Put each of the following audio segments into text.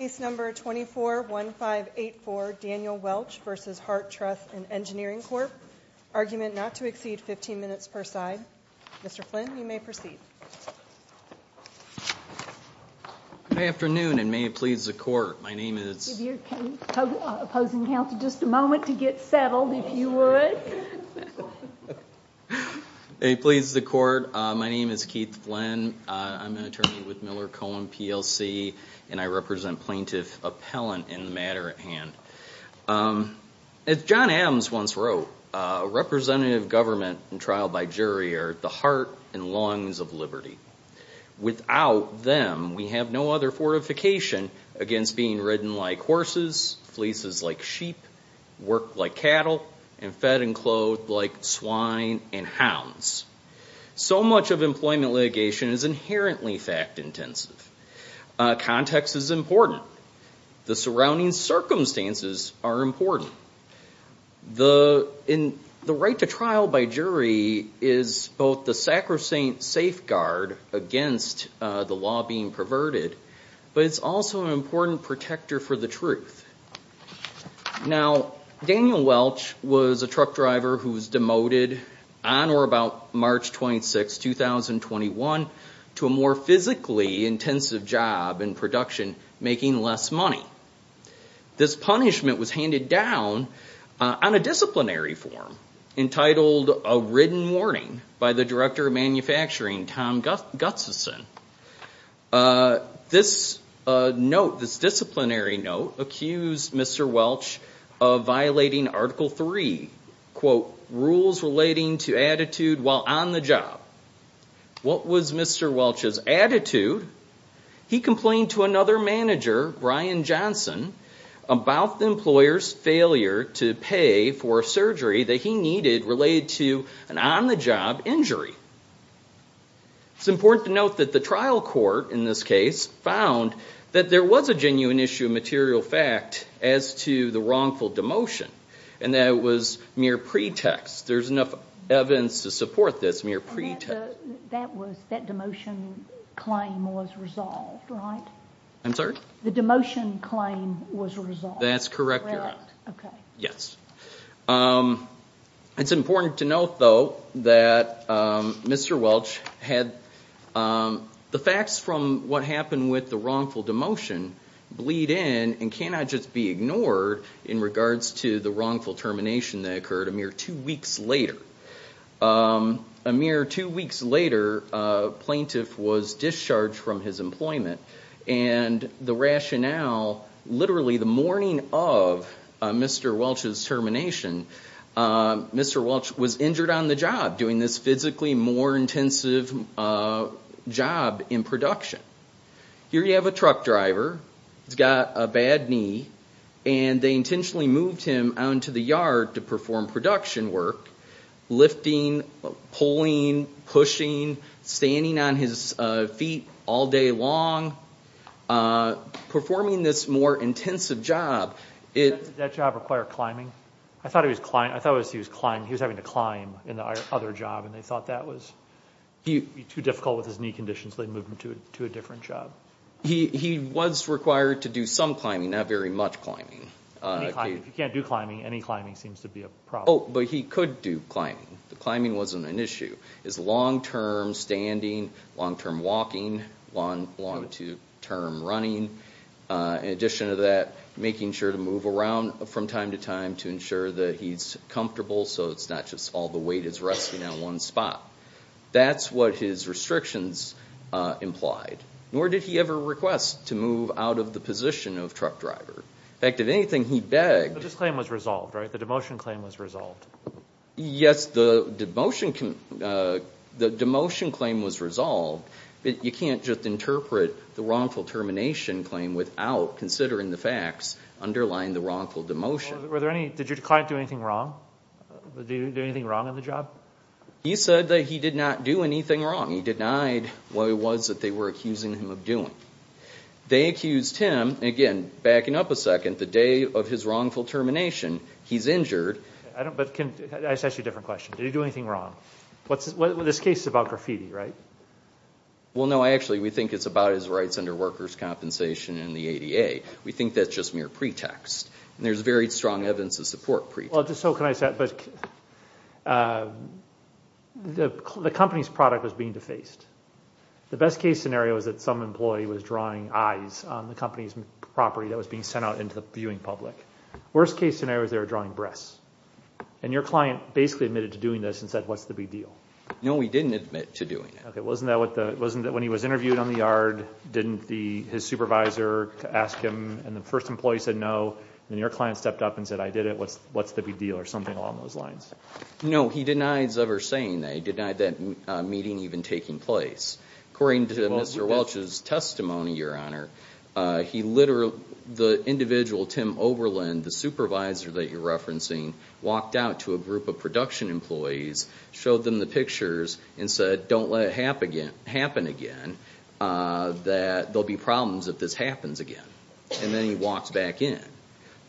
Case number 24-1584, Daniel Welch v. Heart Truss and Engineering Corp Argument not to exceed 15 minutes per side. Mr. Flynn, you may proceed Good afternoon and may it please the court. My name is Opposing counsel just a moment to get settled if you would Hey, please the court. My name is Keith Flynn. I'm an attorney with Miller Cohen PLC and I represent plaintiff appellant in the matter at hand As John Adams once wrote Representative government and trial by jury are the heart and lungs of Liberty Without them we have no other fortification against being ridden like horses Fleeces like sheep work like cattle and fed and clothed like swine and hounds So much of employment litigation is inherently fact-intensive Context is important. The surrounding circumstances are important The in the right to trial by jury is both the sacrosanct Safeguard against the law being perverted But it's also an important protector for the truth Now Daniel Welch was a truck driver who was demoted on or about March 26th 2021 to a more physically intensive job in production making less money This punishment was handed down on a disciplinary form Entitled a ridden warning by the director of manufacturing Tom Gutseson This Note this disciplinary note accused. Mr. Welch of violating article 3 Quote rules relating to attitude while on the job What was mr. Welch's attitude? He complained to another manager Brian Johnson About the employers failure to pay for a surgery that he needed related to an on-the-job injury It's important to note that the trial court in this case found that there was a genuine issue of material fact as to The wrongful demotion and that was mere pretext. There's enough evidence to support this mere pretext I'm sorry, the demotion claim was resolved. That's correct. Yes It's important to note though that Mr. Welch had the facts from what happened with the wrongful demotion Bleed in and cannot just be ignored in regards to the wrongful termination that occurred a mere two weeks later a mere two weeks later plaintiff was discharged from his employment and the rationale literally the morning of Mr. Welch's termination Mr. Welch was injured on the job doing this physically more intensive job in production Here you have a truck driver. He's got a bad knee and They intentionally moved him out into the yard to perform production work lifting pulling Pushing standing on his feet all day long Performing this more intensive job That job required climbing I thought it was client I thought was he was climbing he was having to climb in the other job and they thought that was He too difficult with his knee conditions. They moved him to a different job He he was required to do some climbing not very much climbing You can't do climbing any climbing seems to be a problem But he could do climbing the climbing wasn't an issue is long-term standing long-term walking one long to term running In addition to that making sure to move around from time to time to ensure that he's comfortable So it's not just all the weight is resting on one spot That's what his restrictions Implied nor did he ever request to move out of the position of truck driver? In fact if anything he begged this claim was resolved right the demotion claim was resolved Yes, the demotion can The demotion claim was resolved You can't just interpret the wrongful termination claim without considering the facts Underlying the wrongful demotion were there any did your client do anything wrong? Do you do anything wrong on the job? He said that he did not do anything wrong. He denied what it was that they were accusing him of doing They accused him again backing up a second the day of his wrongful termination. He's injured I don't but can I set you a different question. Did you do anything wrong? What's this case about graffiti, right? Well, no, I actually we think it's about his rights under workers compensation in the ADA We think that's just mere pretext and there's very strong evidence of support pretty well just so can I set but? The company's product was being defaced The best case scenario is that some employee was drawing eyes on the company's property that was being sent out into the viewing public Worst case scenario is they were drawing breasts and your client basically admitted to doing this and said what's the big deal? No, we didn't admit to doing it Wasn't that what the wasn't that when he was interviewed on the yard? Didn't the his supervisor to ask him and the first employee said no and your client stepped up and said I did it What's what's the big deal or something along those lines? No, he denies ever saying they denied that meeting even taking place according to mr. Welch's testimony your honor He literally the individual Tim Oberlin the supervisor that you're referencing Walked out to a group of production employees showed them the pictures and said don't let it happen again happen again That there'll be problems if this happens again, and then he walks back in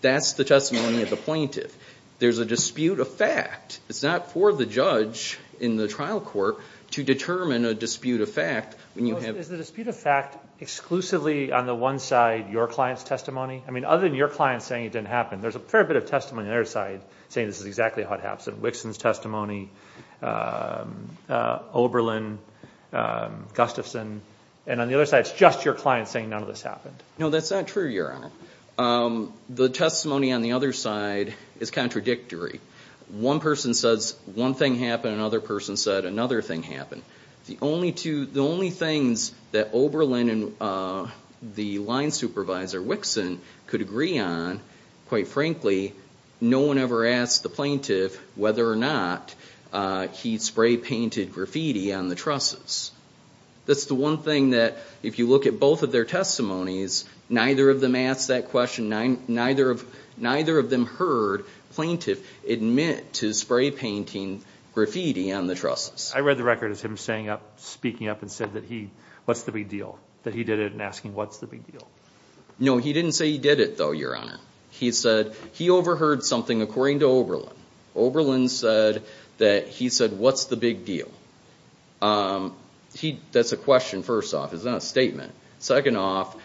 that's the testimony of the plaintiff There's a dispute of fact It's not for the judge in the trial court to determine a dispute of fact when you have the dispute of fact Exclusively on the one side your clients testimony. I mean other than your clients saying it didn't happen There's a fair bit of testimony their side saying this is exactly what happened Wixon's testimony Oberlin Gustafson and on the other side, it's just your client saying none of this happened. No, that's not true your honor The testimony on the other side is contradictory One person says one thing happened another person said another thing happened The only two the only things that Oberlin and The line supervisor Wixon could agree on quite frankly no one ever asked the plaintiff whether or not He'd spray-painted graffiti on the trusses That's the one thing that if you look at both of their testimonies neither of them asked that question nine neither of neither of them heard Plaintiff admit to spray-painting graffiti on the trusses I read the record as him saying up speaking up and said that he what's the big deal that he did it and asking What's the big deal? No, he didn't say he did it though. Your honor. He said he overheard something according to Oberlin Oberlin said that he said what's the big deal? He that's a question first off is not a statement second off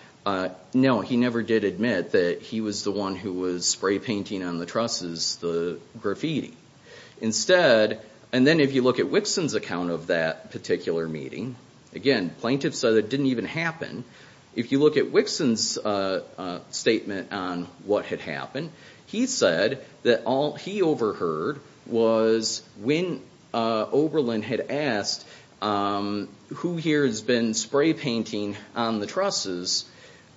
No, he never did admit that. He was the one who was spray-painting on the trusses the graffiti Instead and then if you look at Wixon's account of that particular meeting again plaintiff said it didn't even happen if you look at Wixon's Statement on what had happened. He said that all he overheard was when Oberlin had asked Who here has been spray-painting on the trusses?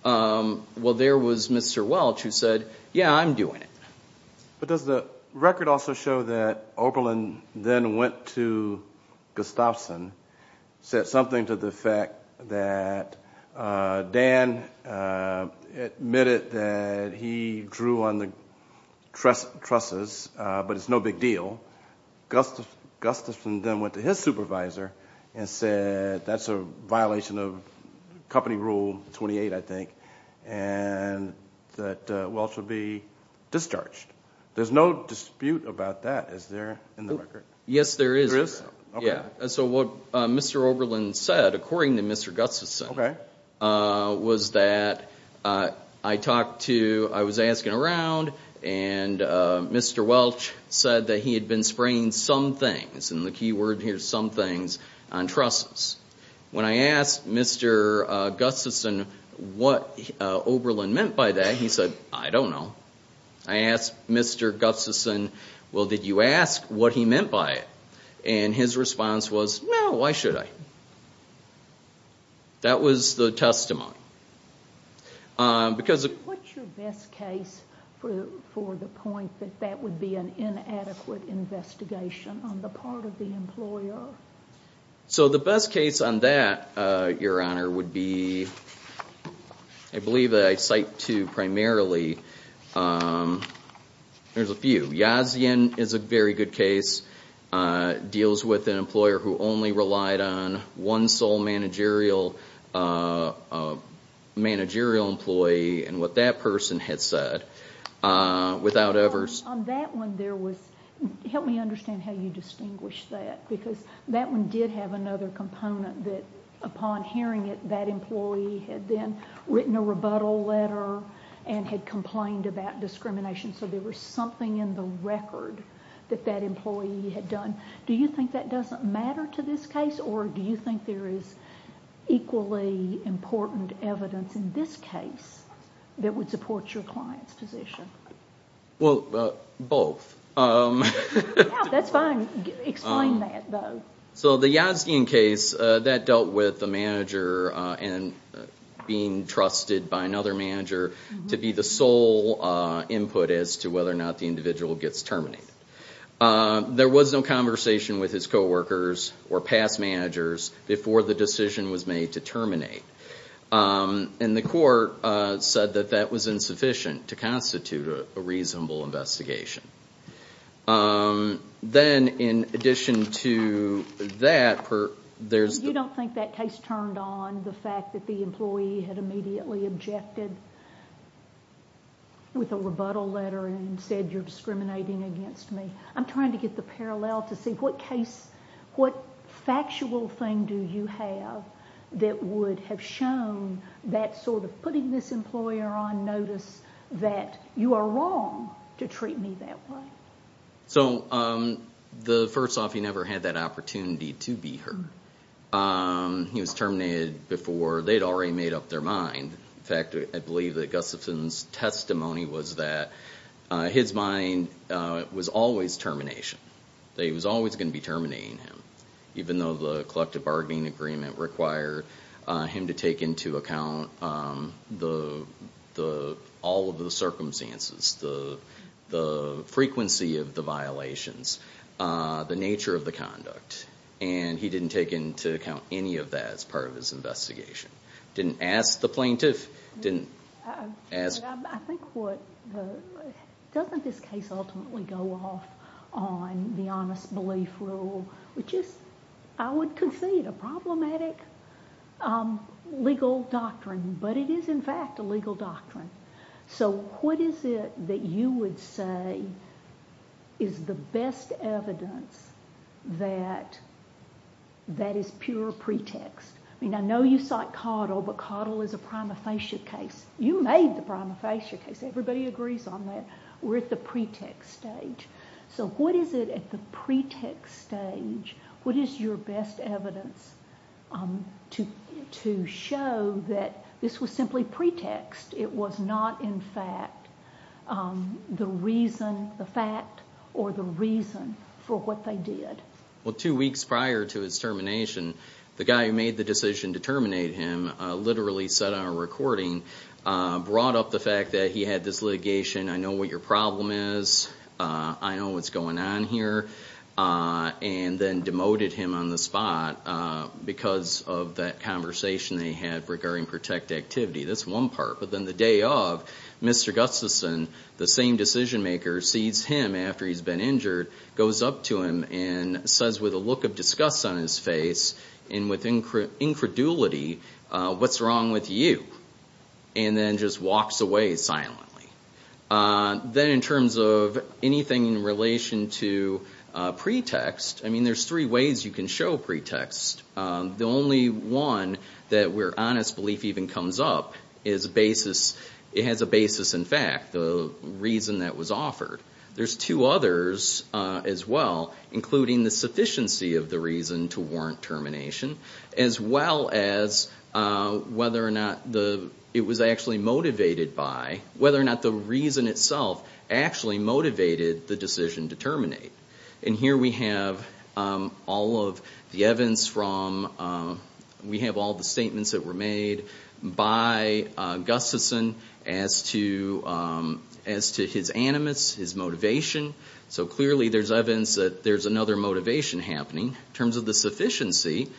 Well, there was mr. Welch who said yeah, I'm doing it But does the record also show that Oberlin then went to Gustafson said something to the fact that Dan Admitted that he drew on the Trust trusses, but it's no big deal Gustafson then went to his supervisor and said that's a violation of company rule 28, I think and That Welch would be Discharged there's no dispute about that. Is there in the record? Yes, there is. Yes. Yeah So what mr. Oberlin said according to mr. Gustafson? Okay was that I talked to I was asking around and Mr. Welch said that he had been spraying some things and the key word here some things on trusses when I asked mr Gustafson what Oberlin meant by that. He said I don't know I asked mr. Gustafson Well, did you ask what he meant by it and his response was no, why should I? That was the testimony Because What's your best case for the point that that would be an inadequate investigation on the part of the employer So the best case on that your honor would be I Believe that I cite to primarily There's a few Yazian is a very good case Deals with an employer who only relied on one sole managerial A Managerial employee and what that person had said without ever Help me understand how you distinguish that because that one did have another component that Upon hearing it that employee had then written a rebuttal letter and had complained about discrimination So there was something in the record that that employee had done Do you think that doesn't matter to this case or do you think there is? Equally important evidence in this case that would support your client's position well both So the Yazian case that dealt with the manager and Being trusted by another manager to be the sole Input as to whether or not the individual gets terminated There was no conversation with his co-workers or past managers before the decision was made to terminate And the court said that that was insufficient to constitute a reasonable investigation Then in addition to That there's you don't think that case turned on the fact that the employee had immediately objected With a rebuttal letter and said you're discriminating against me I'm trying to get the parallel to see what case what factual thing do you have? That would have shown that sort of putting this employer on notice that you are wrong To treat me that way so The first off he never had that opportunity to be heard He was terminated before they'd already made up their mind in fact, I believe that Gustafson's testimony was that his mind Was always termination that he was always going to be terminating him even though the collective bargaining agreement required him to take into account the the all of the circumstances the frequency of the violations The nature of the conduct and he didn't take into account any of that as part of his investigation didn't ask the plaintiff didn't Doesn't this case ultimately go off on the honest belief rule, which is I would concede a problematic Legal doctrine, but it is in fact a legal doctrine. So what is it that you would say is The best evidence that That is pure pretext. I mean, I know you cite Caudill, but Caudill is a prima facie case You made the prima facie case everybody agrees on that. We're at the pretext stage So what is it at the pretext stage? What is your best evidence? To to show that this was simply pretext. It was not in fact The reason the fact or the reason for what they did Well two weeks prior to his termination the guy who made the decision to terminate him literally said on a recording Brought up the fact that he had this litigation. I know what your problem is. I know what's going on here And then demoted him on the spot Because of that conversation they had regarding protect activity. That's one part, but then the day of Mr. Gustafson the same decision-maker sees him after he's been injured goes up to him and Says with a look of disgust on his face and with incredulity, what's wrong with you and Then just walks away silently then in terms of anything in relation to Pretext, I mean there's three ways you can show pretext The only one that we're honest belief even comes up is a basis It has a basis in fact the reason that was offered. There's two others as well including the sufficiency of the reason to warrant termination as well as Whether or not the it was actually motivated by whether or not the reason itself Actually motivated the decision to terminate and here we have All of the evidence from We have all the statements that were made by Gustafson as to As to his animus his motivation, so clearly there's evidence that there's another motivation happening in terms of the sufficiency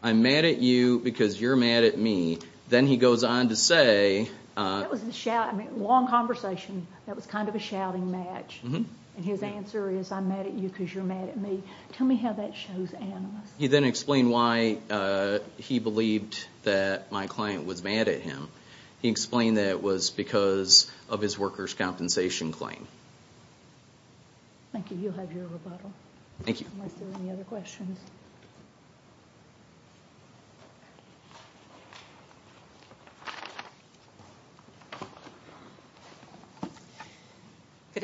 I'm mad at you because you're mad at me, then he goes on to say It was a shout I mean long conversation that was kind of a shouting match And his answer is I'm mad at you because you're mad at me. Tell me how that shows animus. He then explained why He believed that my client was mad at him. He explained that it was because of his workers compensation claim Thank you Good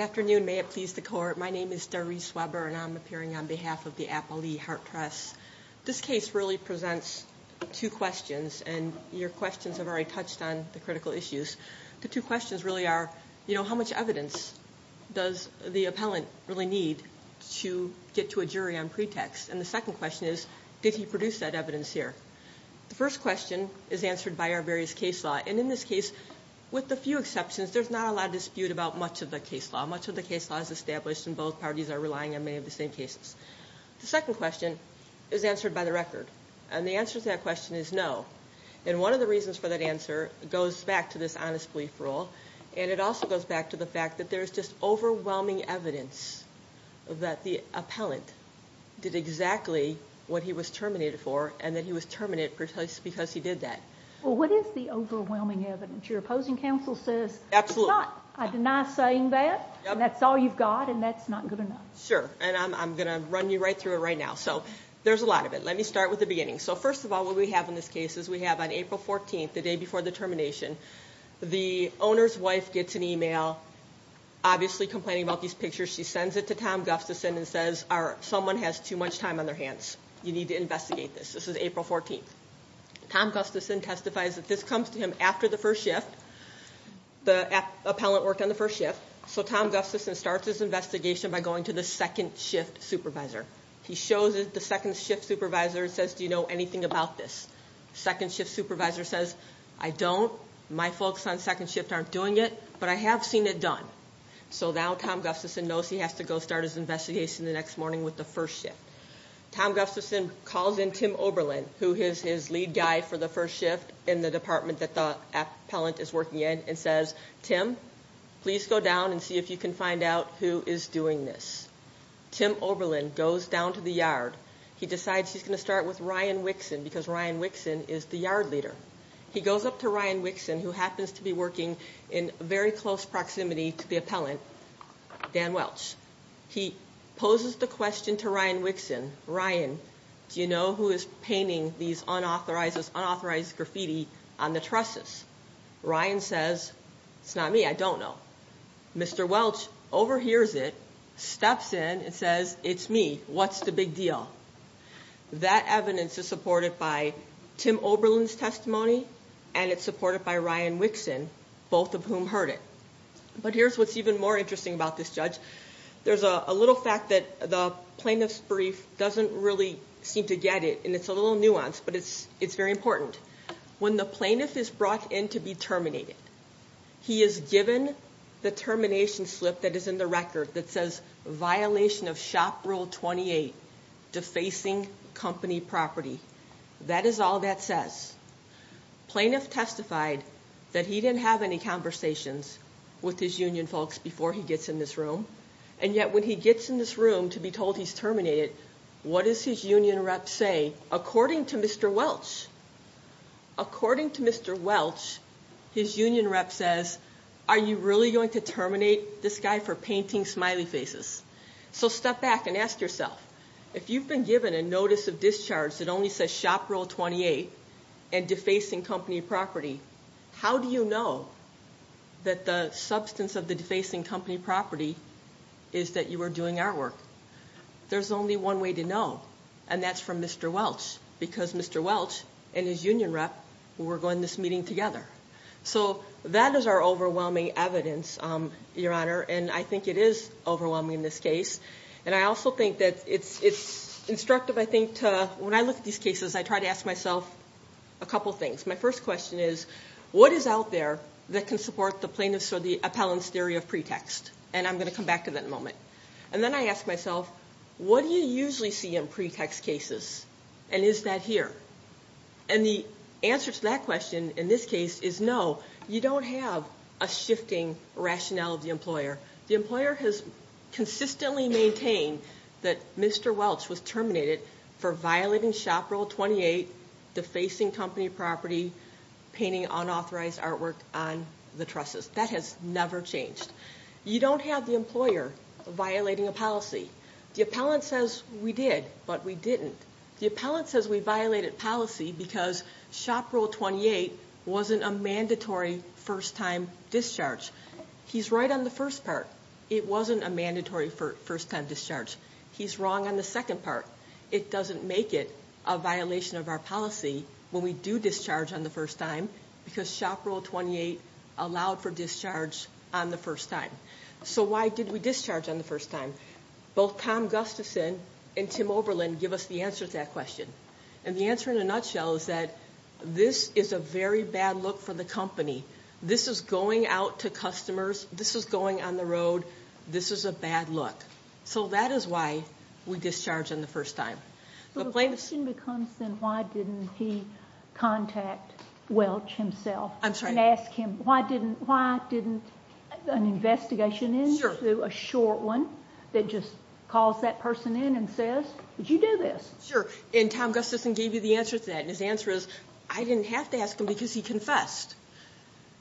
Afternoon may it please the court. My name is Darice Weber, and I'm appearing on behalf of the Apple e heart trust This case really presents two questions and your questions have already touched on the critical issues The two questions really are you know how much evidence? Does the appellant really need to get to a jury on pretext and the second question is did he produce that evidence here? The first question is answered by our various case law and in this case with the few exceptions There's not a lot of dispute about much of the case law much of the case law is established and both parties are relying on many of the same cases The second question is answered by the record and the answer to that question is no And one of the reasons for that answer goes back to this honest belief rule And it also goes back to the fact that there's just overwhelming evidence That the appellant Did exactly what he was terminated for and that he was terminated for choice because he did that well What is the overwhelming evidence your opposing counsel says absolutely not I did not saying that That's all you've got and that's not good enough sure and I'm gonna run you right through it right now So there's a lot of it. Let me start with the beginning so first of all what we have in this case is we have On April 14th the day before the termination The owner's wife gets an email Obviously complaining about these pictures She sends it to Tom Gustafson and says our someone has too much time on their hands you need to investigate this This is April 14th Tom Gustafson testifies that this comes to him after the first shift The appellant worked on the first shift so Tom Gustafson starts his investigation by going to the second shift supervisor He shows it the second shift supervisor. It says do you know anything about this? Second shift supervisor says I don't my folks on second shift aren't doing it, but I have seen it done So now Tom Gustafson knows he has to go start his investigation the next morning with the first shift Tom Gustafson calls in Tim Oberlin who is his lead guy for the first shift in the department that the Appellant is working in and says Tim. Please go down and see if you can find out who is doing this Tim Oberlin goes down to the yard He decides he's gonna start with Ryan Wixon because Ryan Wixon is the yard leader He goes up to Ryan Wixon who happens to be working in very close proximity to the appellant Dan Welch he poses the question to Ryan Wixon Ryan Do you know who is painting these unauthorized unauthorized graffiti on the trusses? Ryan says it's not me. I don't know Mr. Welch overhears it steps in and says it's me. What's the big deal? That evidence is supported by Tim Oberlin's testimony and it's supported by Ryan Wixon both of whom heard it But here's what's even more interesting about this judge There's a little fact that the plaintiff's brief doesn't really seem to get it and it's a little nuance But it's it's very important when the plaintiff is brought in to be terminated He is given the termination slip that is in the record that says violation of shop rule 28 defacing company property That is all that says plaintiff testified that he didn't have any conversations with his union folks before he gets in this room and Yet when he gets in this room to be told he's terminated. What is his union rep say according to mr. Welch? According to mr. Welch His union rep says are you really going to terminate this guy for painting smiley faces? so step back and ask yourself if you've been given a notice of discharge that only says shop rule 28 and defacing company property How do you know? That the substance of the defacing company property is that you were doing our work There's only one way to know and that's from mr. Welch because mr. Welch And his union rep we're going this meeting together. So that is our overwhelming evidence Your honor, and I think it is overwhelming in this case. And I also think that it's it's instructive I think when I look at these cases, I try to ask myself a couple things My first question is what is out there that can support the plaintiffs or the appellants theory of pretext? And I'm going to come back to that in a moment. And then I ask myself What do you usually see in pretext cases? And is that here? And the answer to that question in this case is no you don't have a shifting rationale of the employer The employer has consistently maintained that mr Welch was terminated for violating shop rule 28 defacing company property Painting unauthorized artwork on the trusses that has never changed You don't have the employer violating a policy the appellant says we did but we didn't The appellant says we violated policy because shop rule 28 wasn't a mandatory first-time discharge He's right on the first part. It wasn't a mandatory for first-time discharge. He's wrong on the second part It doesn't make it a violation of our policy when we do discharge on the first time because shop rule 28 Allowed for discharge on the first time. So why did we discharge on the first time both? Tom Gustafson and Tim Oberlin give us the answer to that question and the answer in a nutshell is that This is a very bad look for the company. This is going out to customers. This is going on the road This is a bad look. So that is why we discharge on the first time The question becomes then why didn't he contact Welch himself? I'm sorry Why didn't why didn't an investigation into a short one that just calls that person in and says Did you do this? Sure and Tom Gustafson gave you the answer to that and his answer is I didn't have to ask him because he confessed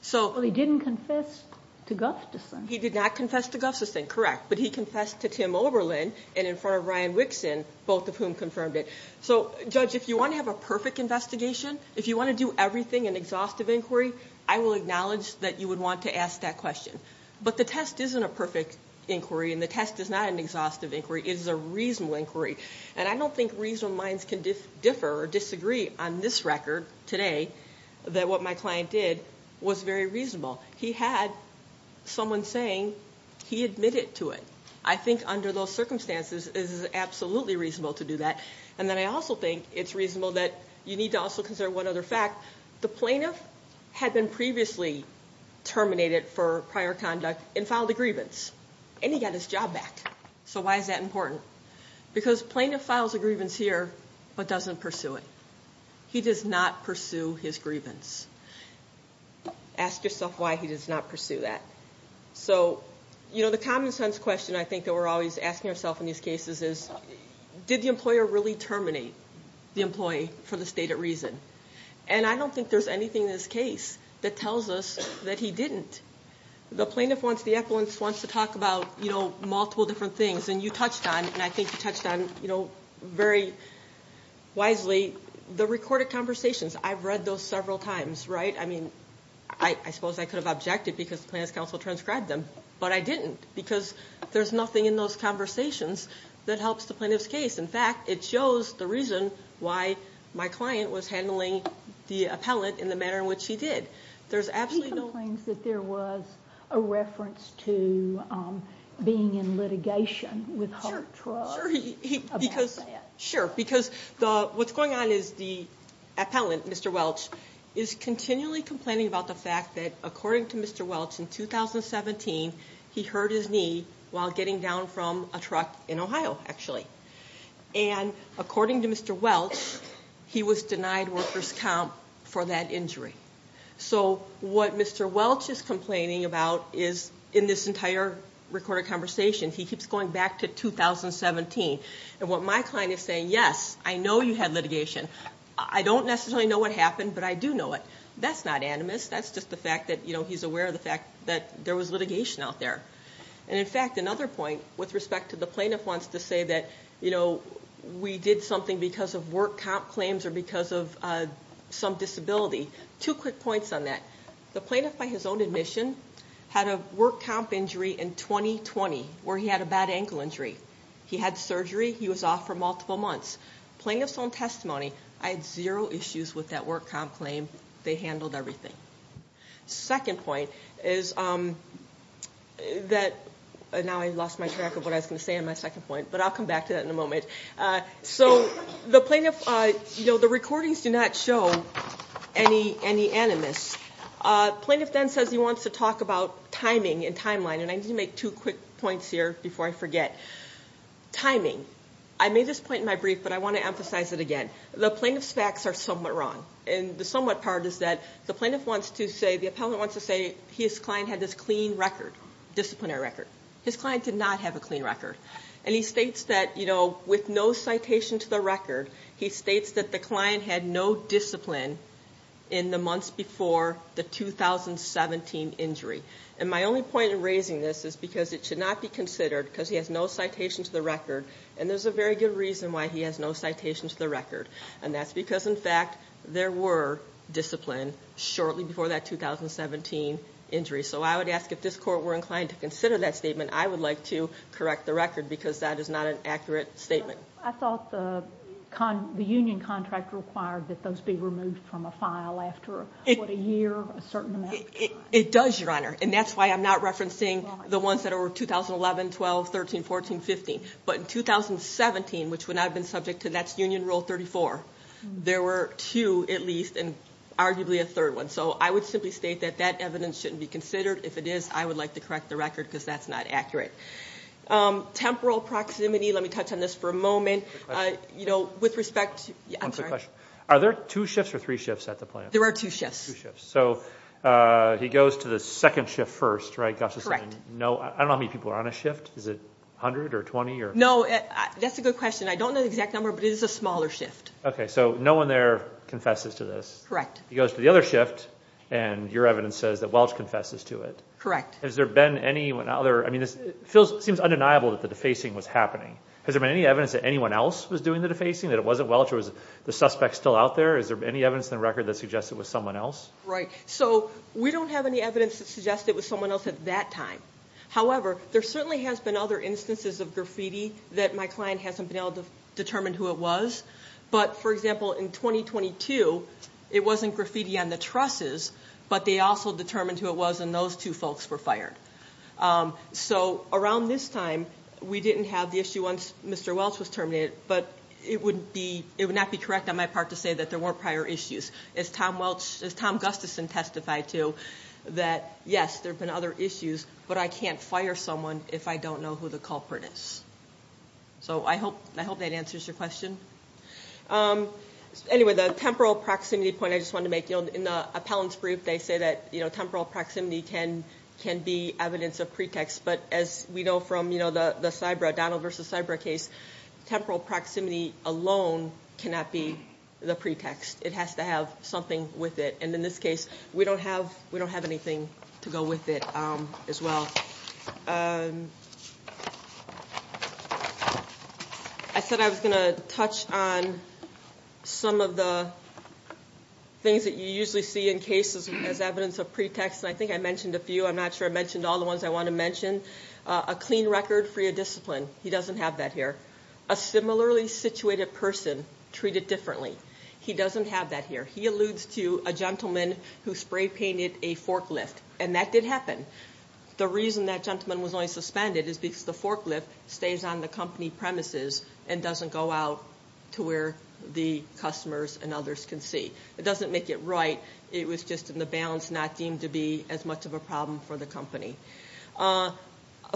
So he didn't confess to Gustafson. He did not confess to Gustafson, correct But he confessed to Tim Oberlin and in front of Ryan Wixon both of whom confirmed it So judge if you want to have a perfect investigation if you want to do everything an exhaustive inquiry I will acknowledge that you would want to ask that question But the test isn't a perfect inquiry and the test is not an exhaustive inquiry It is a reasonable inquiry and I don't think reasonable minds can differ or disagree on this record today That what my client did was very reasonable. He had Someone saying he admitted to it. I think under those circumstances This is absolutely reasonable to do that And then I also think it's reasonable that you need to also consider one other fact the plaintiff had been previously Terminated for prior conduct and filed a grievance and he got his job back. So why is that important? Because plaintiff files a grievance here, but doesn't pursue it. He does not pursue his grievance Ask yourself why he does not pursue that So, you know the common-sense question. I think that we're always asking ourself in these cases is Did the employer really terminate the employee for the stated reason and I don't think there's anything In this case that tells us that he didn't The plaintiff wants the effluence wants to talk about, you know, multiple different things and you touched on and I think you touched on you know very Wisely the recorded conversations. I've read those several times, right? I mean, I suppose I could have objected because the plaintiff's counsel transcribed them But I didn't because there's nothing in those conversations that helps the plaintiff's case In fact, it shows the reason why my client was handling the appellant in the manner in which he did There's absolutely no claims that there was a reference to being in litigation with Sure because the what's going on is the Appellant, mr. Welch is continually complaining about the fact that according to mr. Welch in 2017 he hurt his knee while getting down from a truck in Ohio actually, and According to mr. Welch. He was denied workers comp for that injury So what mr. Welch is complaining about is in this entire recorded conversation. He keeps going back to 2017 and what my client is saying? Yes. I know you had litigation. I don't necessarily know what happened, but I do know it That's not animus. That's just the fact that you know, he's aware of the fact that there was litigation out there And in fact another point with respect to the plaintiff wants to say that you know we did something because of work comp claims or because of Some disability two quick points on that the plaintiff by his own admission Had a work comp injury in 2020 where he had a bad ankle injury. He had surgery He was off for multiple months plaintiff's own testimony. I had zero issues with that work comp claim. They handled everything second point is That Now I lost my track of what I was going to say in my second point, but I'll come back to that in a moment So the plaintiff, you know, the recordings do not show any any animus Plaintiff then says he wants to talk about timing and timeline and I need to make two quick points here before I forget Timing I made this point in my brief But I want to emphasize it again the plaintiff's facts are somewhat wrong and the somewhat part is that the plaintiff wants to say the appellant wants to say he is Client had this clean record Disciplinary record his client did not have a clean record and he states that you know with no citation to the record He states that the client had no discipline in the months before the 2017 injury and my only point in raising this is because it should not be considered because he has no citation to the record and There's a very good reason why he has no citation to the record and that's because in fact there were discipline shortly before that 2017 injury So I would ask if this court were inclined to consider that statement I would like to correct the record because that is not an accurate statement. I thought the Con the union contract required that those be removed from a file after a year a certain It does your honor and that's why I'm not referencing the ones that are 2011 12 13 14 15, but in 2017 which would not have been subject to that's Union Rule 34 There were two at least and arguably a third one So I would simply state that that evidence shouldn't be considered if it is I would like to correct the record because that's not accurate Temporal proximity, let me touch on this for a moment, you know with respect Are there two shifts or three shifts at the plant? There are two shifts. Yes, so He goes to the second shift first, right? That's right. No, I don't know how many people are on a shift. Is it 100 or 20 or no, that's a good question I don't know the exact number but it is a smaller shift. Okay, so no one there confesses to this, correct? He goes to the other shift and your evidence says that Welch confesses to it, correct? Has there been any one other I mean this feels seems undeniable that the defacing was happening Has there been any evidence that anyone else was doing the defacing that it wasn't Welch or was the suspect still out there? Is there any evidence in the record that suggests it was someone else, right? So we don't have any evidence that suggests it was someone else at that time However, there certainly has been other instances of graffiti that my client hasn't been able to determine who it was But for example in 2022, it wasn't graffiti on the trusses, but they also determined who it was and those two folks were fired So around this time we didn't have the issue once. Mr. Welch was terminated But it would be it would not be correct on my part to say that there weren't prior issues as Tom Welch as Tom Gustafson Testified to that. Yes, there have been other issues, but I can't fire someone if I don't know who the culprit is So I hope I hope that answers your question Anyway the temporal proximity point I just want to make you know in the appellant's brief They say that you know temporal proximity can can be evidence of pretext But as we know from you know, the the cyber Donald versus cyber case Temporal proximity alone cannot be the pretext It has to have something with it. And in this case, we don't have we don't have anything to go with it as well I said I was gonna touch on some of the Things that you usually see in cases as evidence of pretext and I think I mentioned a few I'm not sure I mentioned all the ones I want to mention a clean record for your discipline He doesn't have that here a similarly situated person treat it differently. He doesn't have that here He alludes to a gentleman who spray-painted a forklift and that did happen the reason that gentleman was only suspended is because the forklift stays on the company premises and doesn't go out to where the Customers and others can see it doesn't make it right It was just in the balance not deemed to be as much of a problem for the company a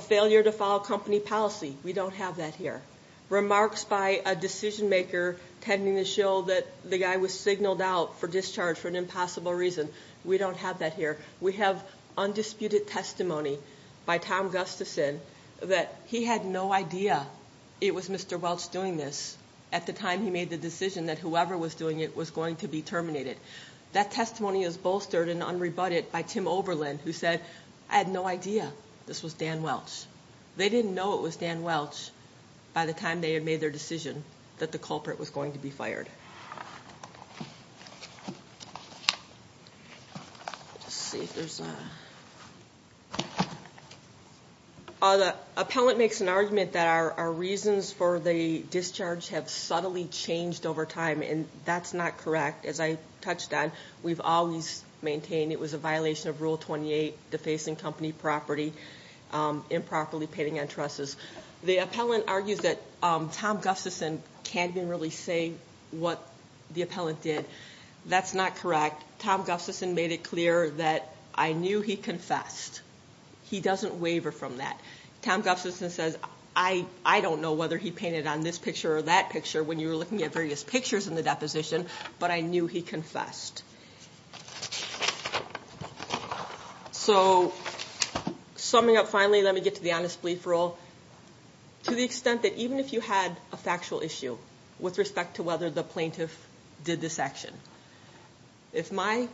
Failure to follow company policy. We don't have that here Remarks by a decision maker tending to show that the guy was signaled out for discharge for an impossible reason We don't have that here. We have Undisputed testimony by Tom Gustafson that he had no idea It was mr Welch doing this at the time he made the decision that whoever was doing it was going to be terminated That testimony is bolstered and unrebutted by Tim Oberlin who said I had no idea this was Dan Welch They didn't know it was Dan Welch by the time they had made their decision that the culprit was going to be fired Other appellant makes an argument that our reasons for the discharge have subtly changed over time And that's not correct as I touched on we've always maintained. It was a violation of rule 28 defacing company property Improperly painting entrusts the appellant argues that Tom Gustafson can't even really say what the appellant did That's not correct. Tom Gustafson made it clear that I knew he confessed He doesn't waiver from that Tom Gustafson says I I don't know whether he painted on this picture or that picture when you were looking at various pictures in the deposition, but I knew he confessed So Summing up finally, let me get to the honest-belief rule To the extent that even if you had a factual issue with respect to whether the plaintiff did this action if my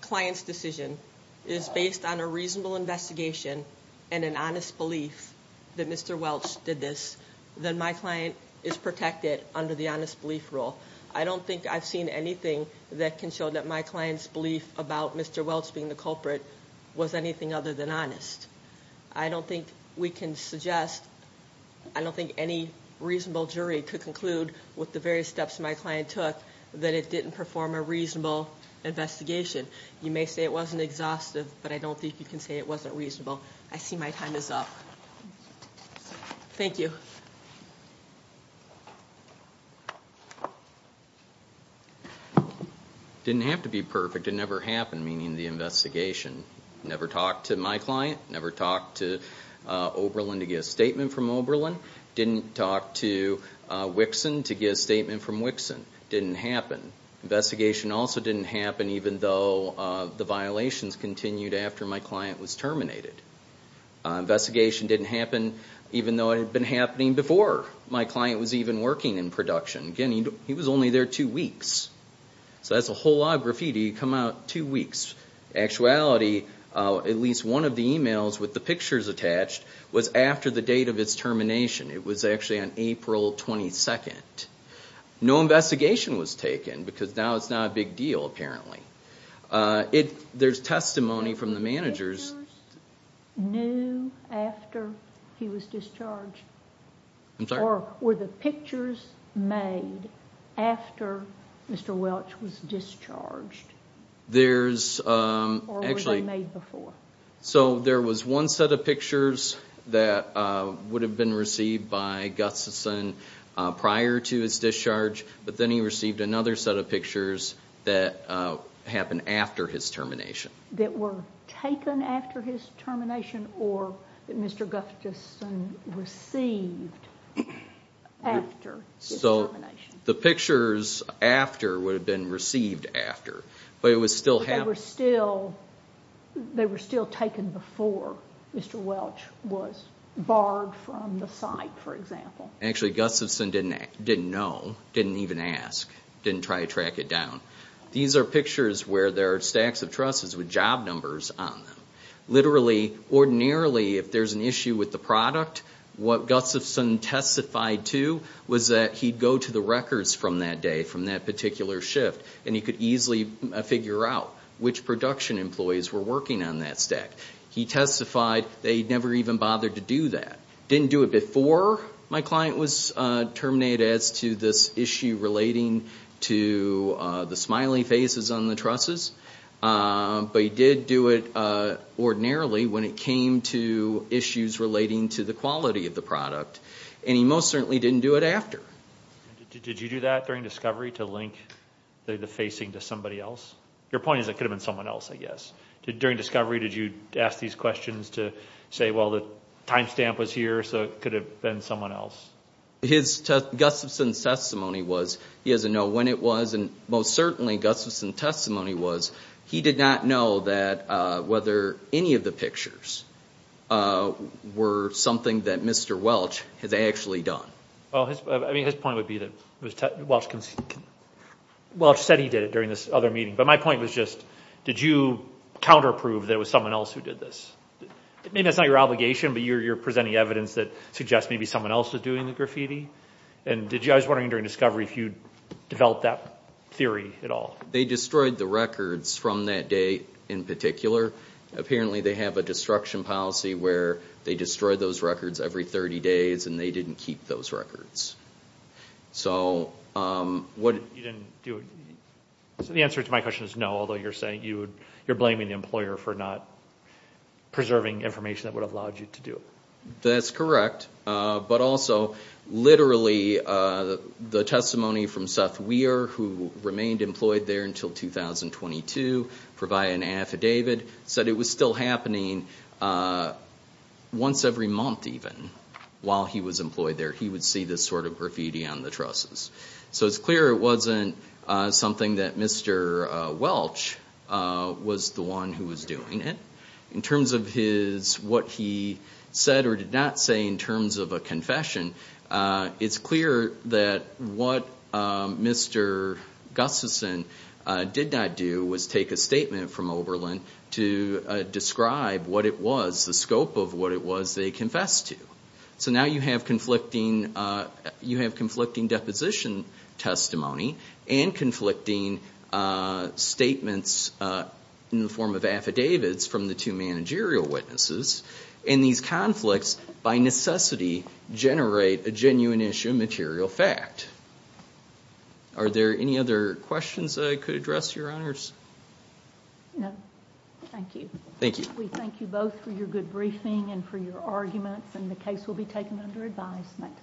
Client's decision is based on a reasonable investigation and an honest belief that mr Welch did this then my client is protected under the honest-belief rule I don't think I've seen anything that can show that my clients belief about mr. Welch being the culprit was anything other than honest I don't think we can suggest I Don't think any reasonable jury could conclude with the various steps my client took that it didn't perform a reasonable Investigation you may say it wasn't exhaustive, but I don't think you can say it wasn't reasonable. I see my time is up Thank you I Didn't have to be perfect. It never happened meaning the investigation never talked to my client never talked to Oberlin to get a statement from Oberlin didn't talk to Wixson to get a statement from Wixson didn't happen Investigation also didn't happen even though the violations continued after my client was terminated Investigation didn't happen even though it had been happening before my client was even working in production again He was only there two weeks So that's a whole lot of graffiti come out two weeks Actuality at least one of the emails with the pictures attached was after the date of its termination. It was actually on April 22nd No investigation was taken because now it's not a big deal apparently It there's testimony from the managers knew After he was discharged I'm sorry were the pictures made After mr. Welch was discharged there's Actually made before so there was one set of pictures that Would have been received by Gustafson prior to his discharge, but then he received another set of pictures that Happened after his termination that were taken after his termination or that mr. Gustafson received After so the pictures after would have been received after but it was still have we're still They were still taken before mr. Welch was barred from the site for example actually Gustafson didn't didn't know didn't even ask Didn't try to track it down. These are pictures where there are stacks of trusses with job numbers on them Literally ordinarily if there's an issue with the product what Gustafson Testified to was that he'd go to the records from that day from that particular shift And he could easily figure out which production employees were working on that stack he testified They never even bothered to do that didn't do it before my client was Terminated as to this issue relating to the smiling faces on the trusses But he did do it Ordinarily when it came to issues relating to the quality of the product, and he most certainly didn't do it after Did you do that during discovery to link the facing to somebody else your point is it could have been someone else? I guess during discovery. Did you ask these questions to say well the time stamp was here So it could have been someone else Gustafson's testimony was he doesn't know when it was and most certainly Gustafson testimony was he did not know that whether any of the pictures Were something that mr.. Welch has actually done. Well. I mean his point would be that it was Welch said he did it during this other meeting, but my point was just did you Counterprove there was someone else who did this Maybe that's not your obligation, but you're you're presenting evidence that suggests Maybe someone else is doing the graffiti and did you I was wondering during discovery if you'd developed that theory at all They destroyed the records from that day in particular Apparently they have a destruction policy where they destroyed those records every 30 days, and they didn't keep those records so What? The answer to my question is no although you're saying you you're blaming the employer for not Preserving information that would have allowed you to do that's correct, but also literally the testimony from Seth Weir who remained employed there until 2022 for by an affidavit said it was still happening Once every month even while he was employed there. He would see this sort of graffiti on the trusses, so it's clear it wasn't Something that mr.. Welch Was the one who was doing it in terms of his what he said or did not say in terms of a confession It's clear that what? Mr. Gustafson did not do was take a statement from Oberlin to Describe what it was the scope of what it was they confessed to so now you have conflicting You have conflicting deposition testimony and conflicting Statements In the form of affidavits from the two managerial witnesses in these conflicts by necessity Generate a genuine issue material fact Are there any other questions that I could address your honors? Thank you, thank you both for your good briefing and for your arguments and the case will be taken under advisement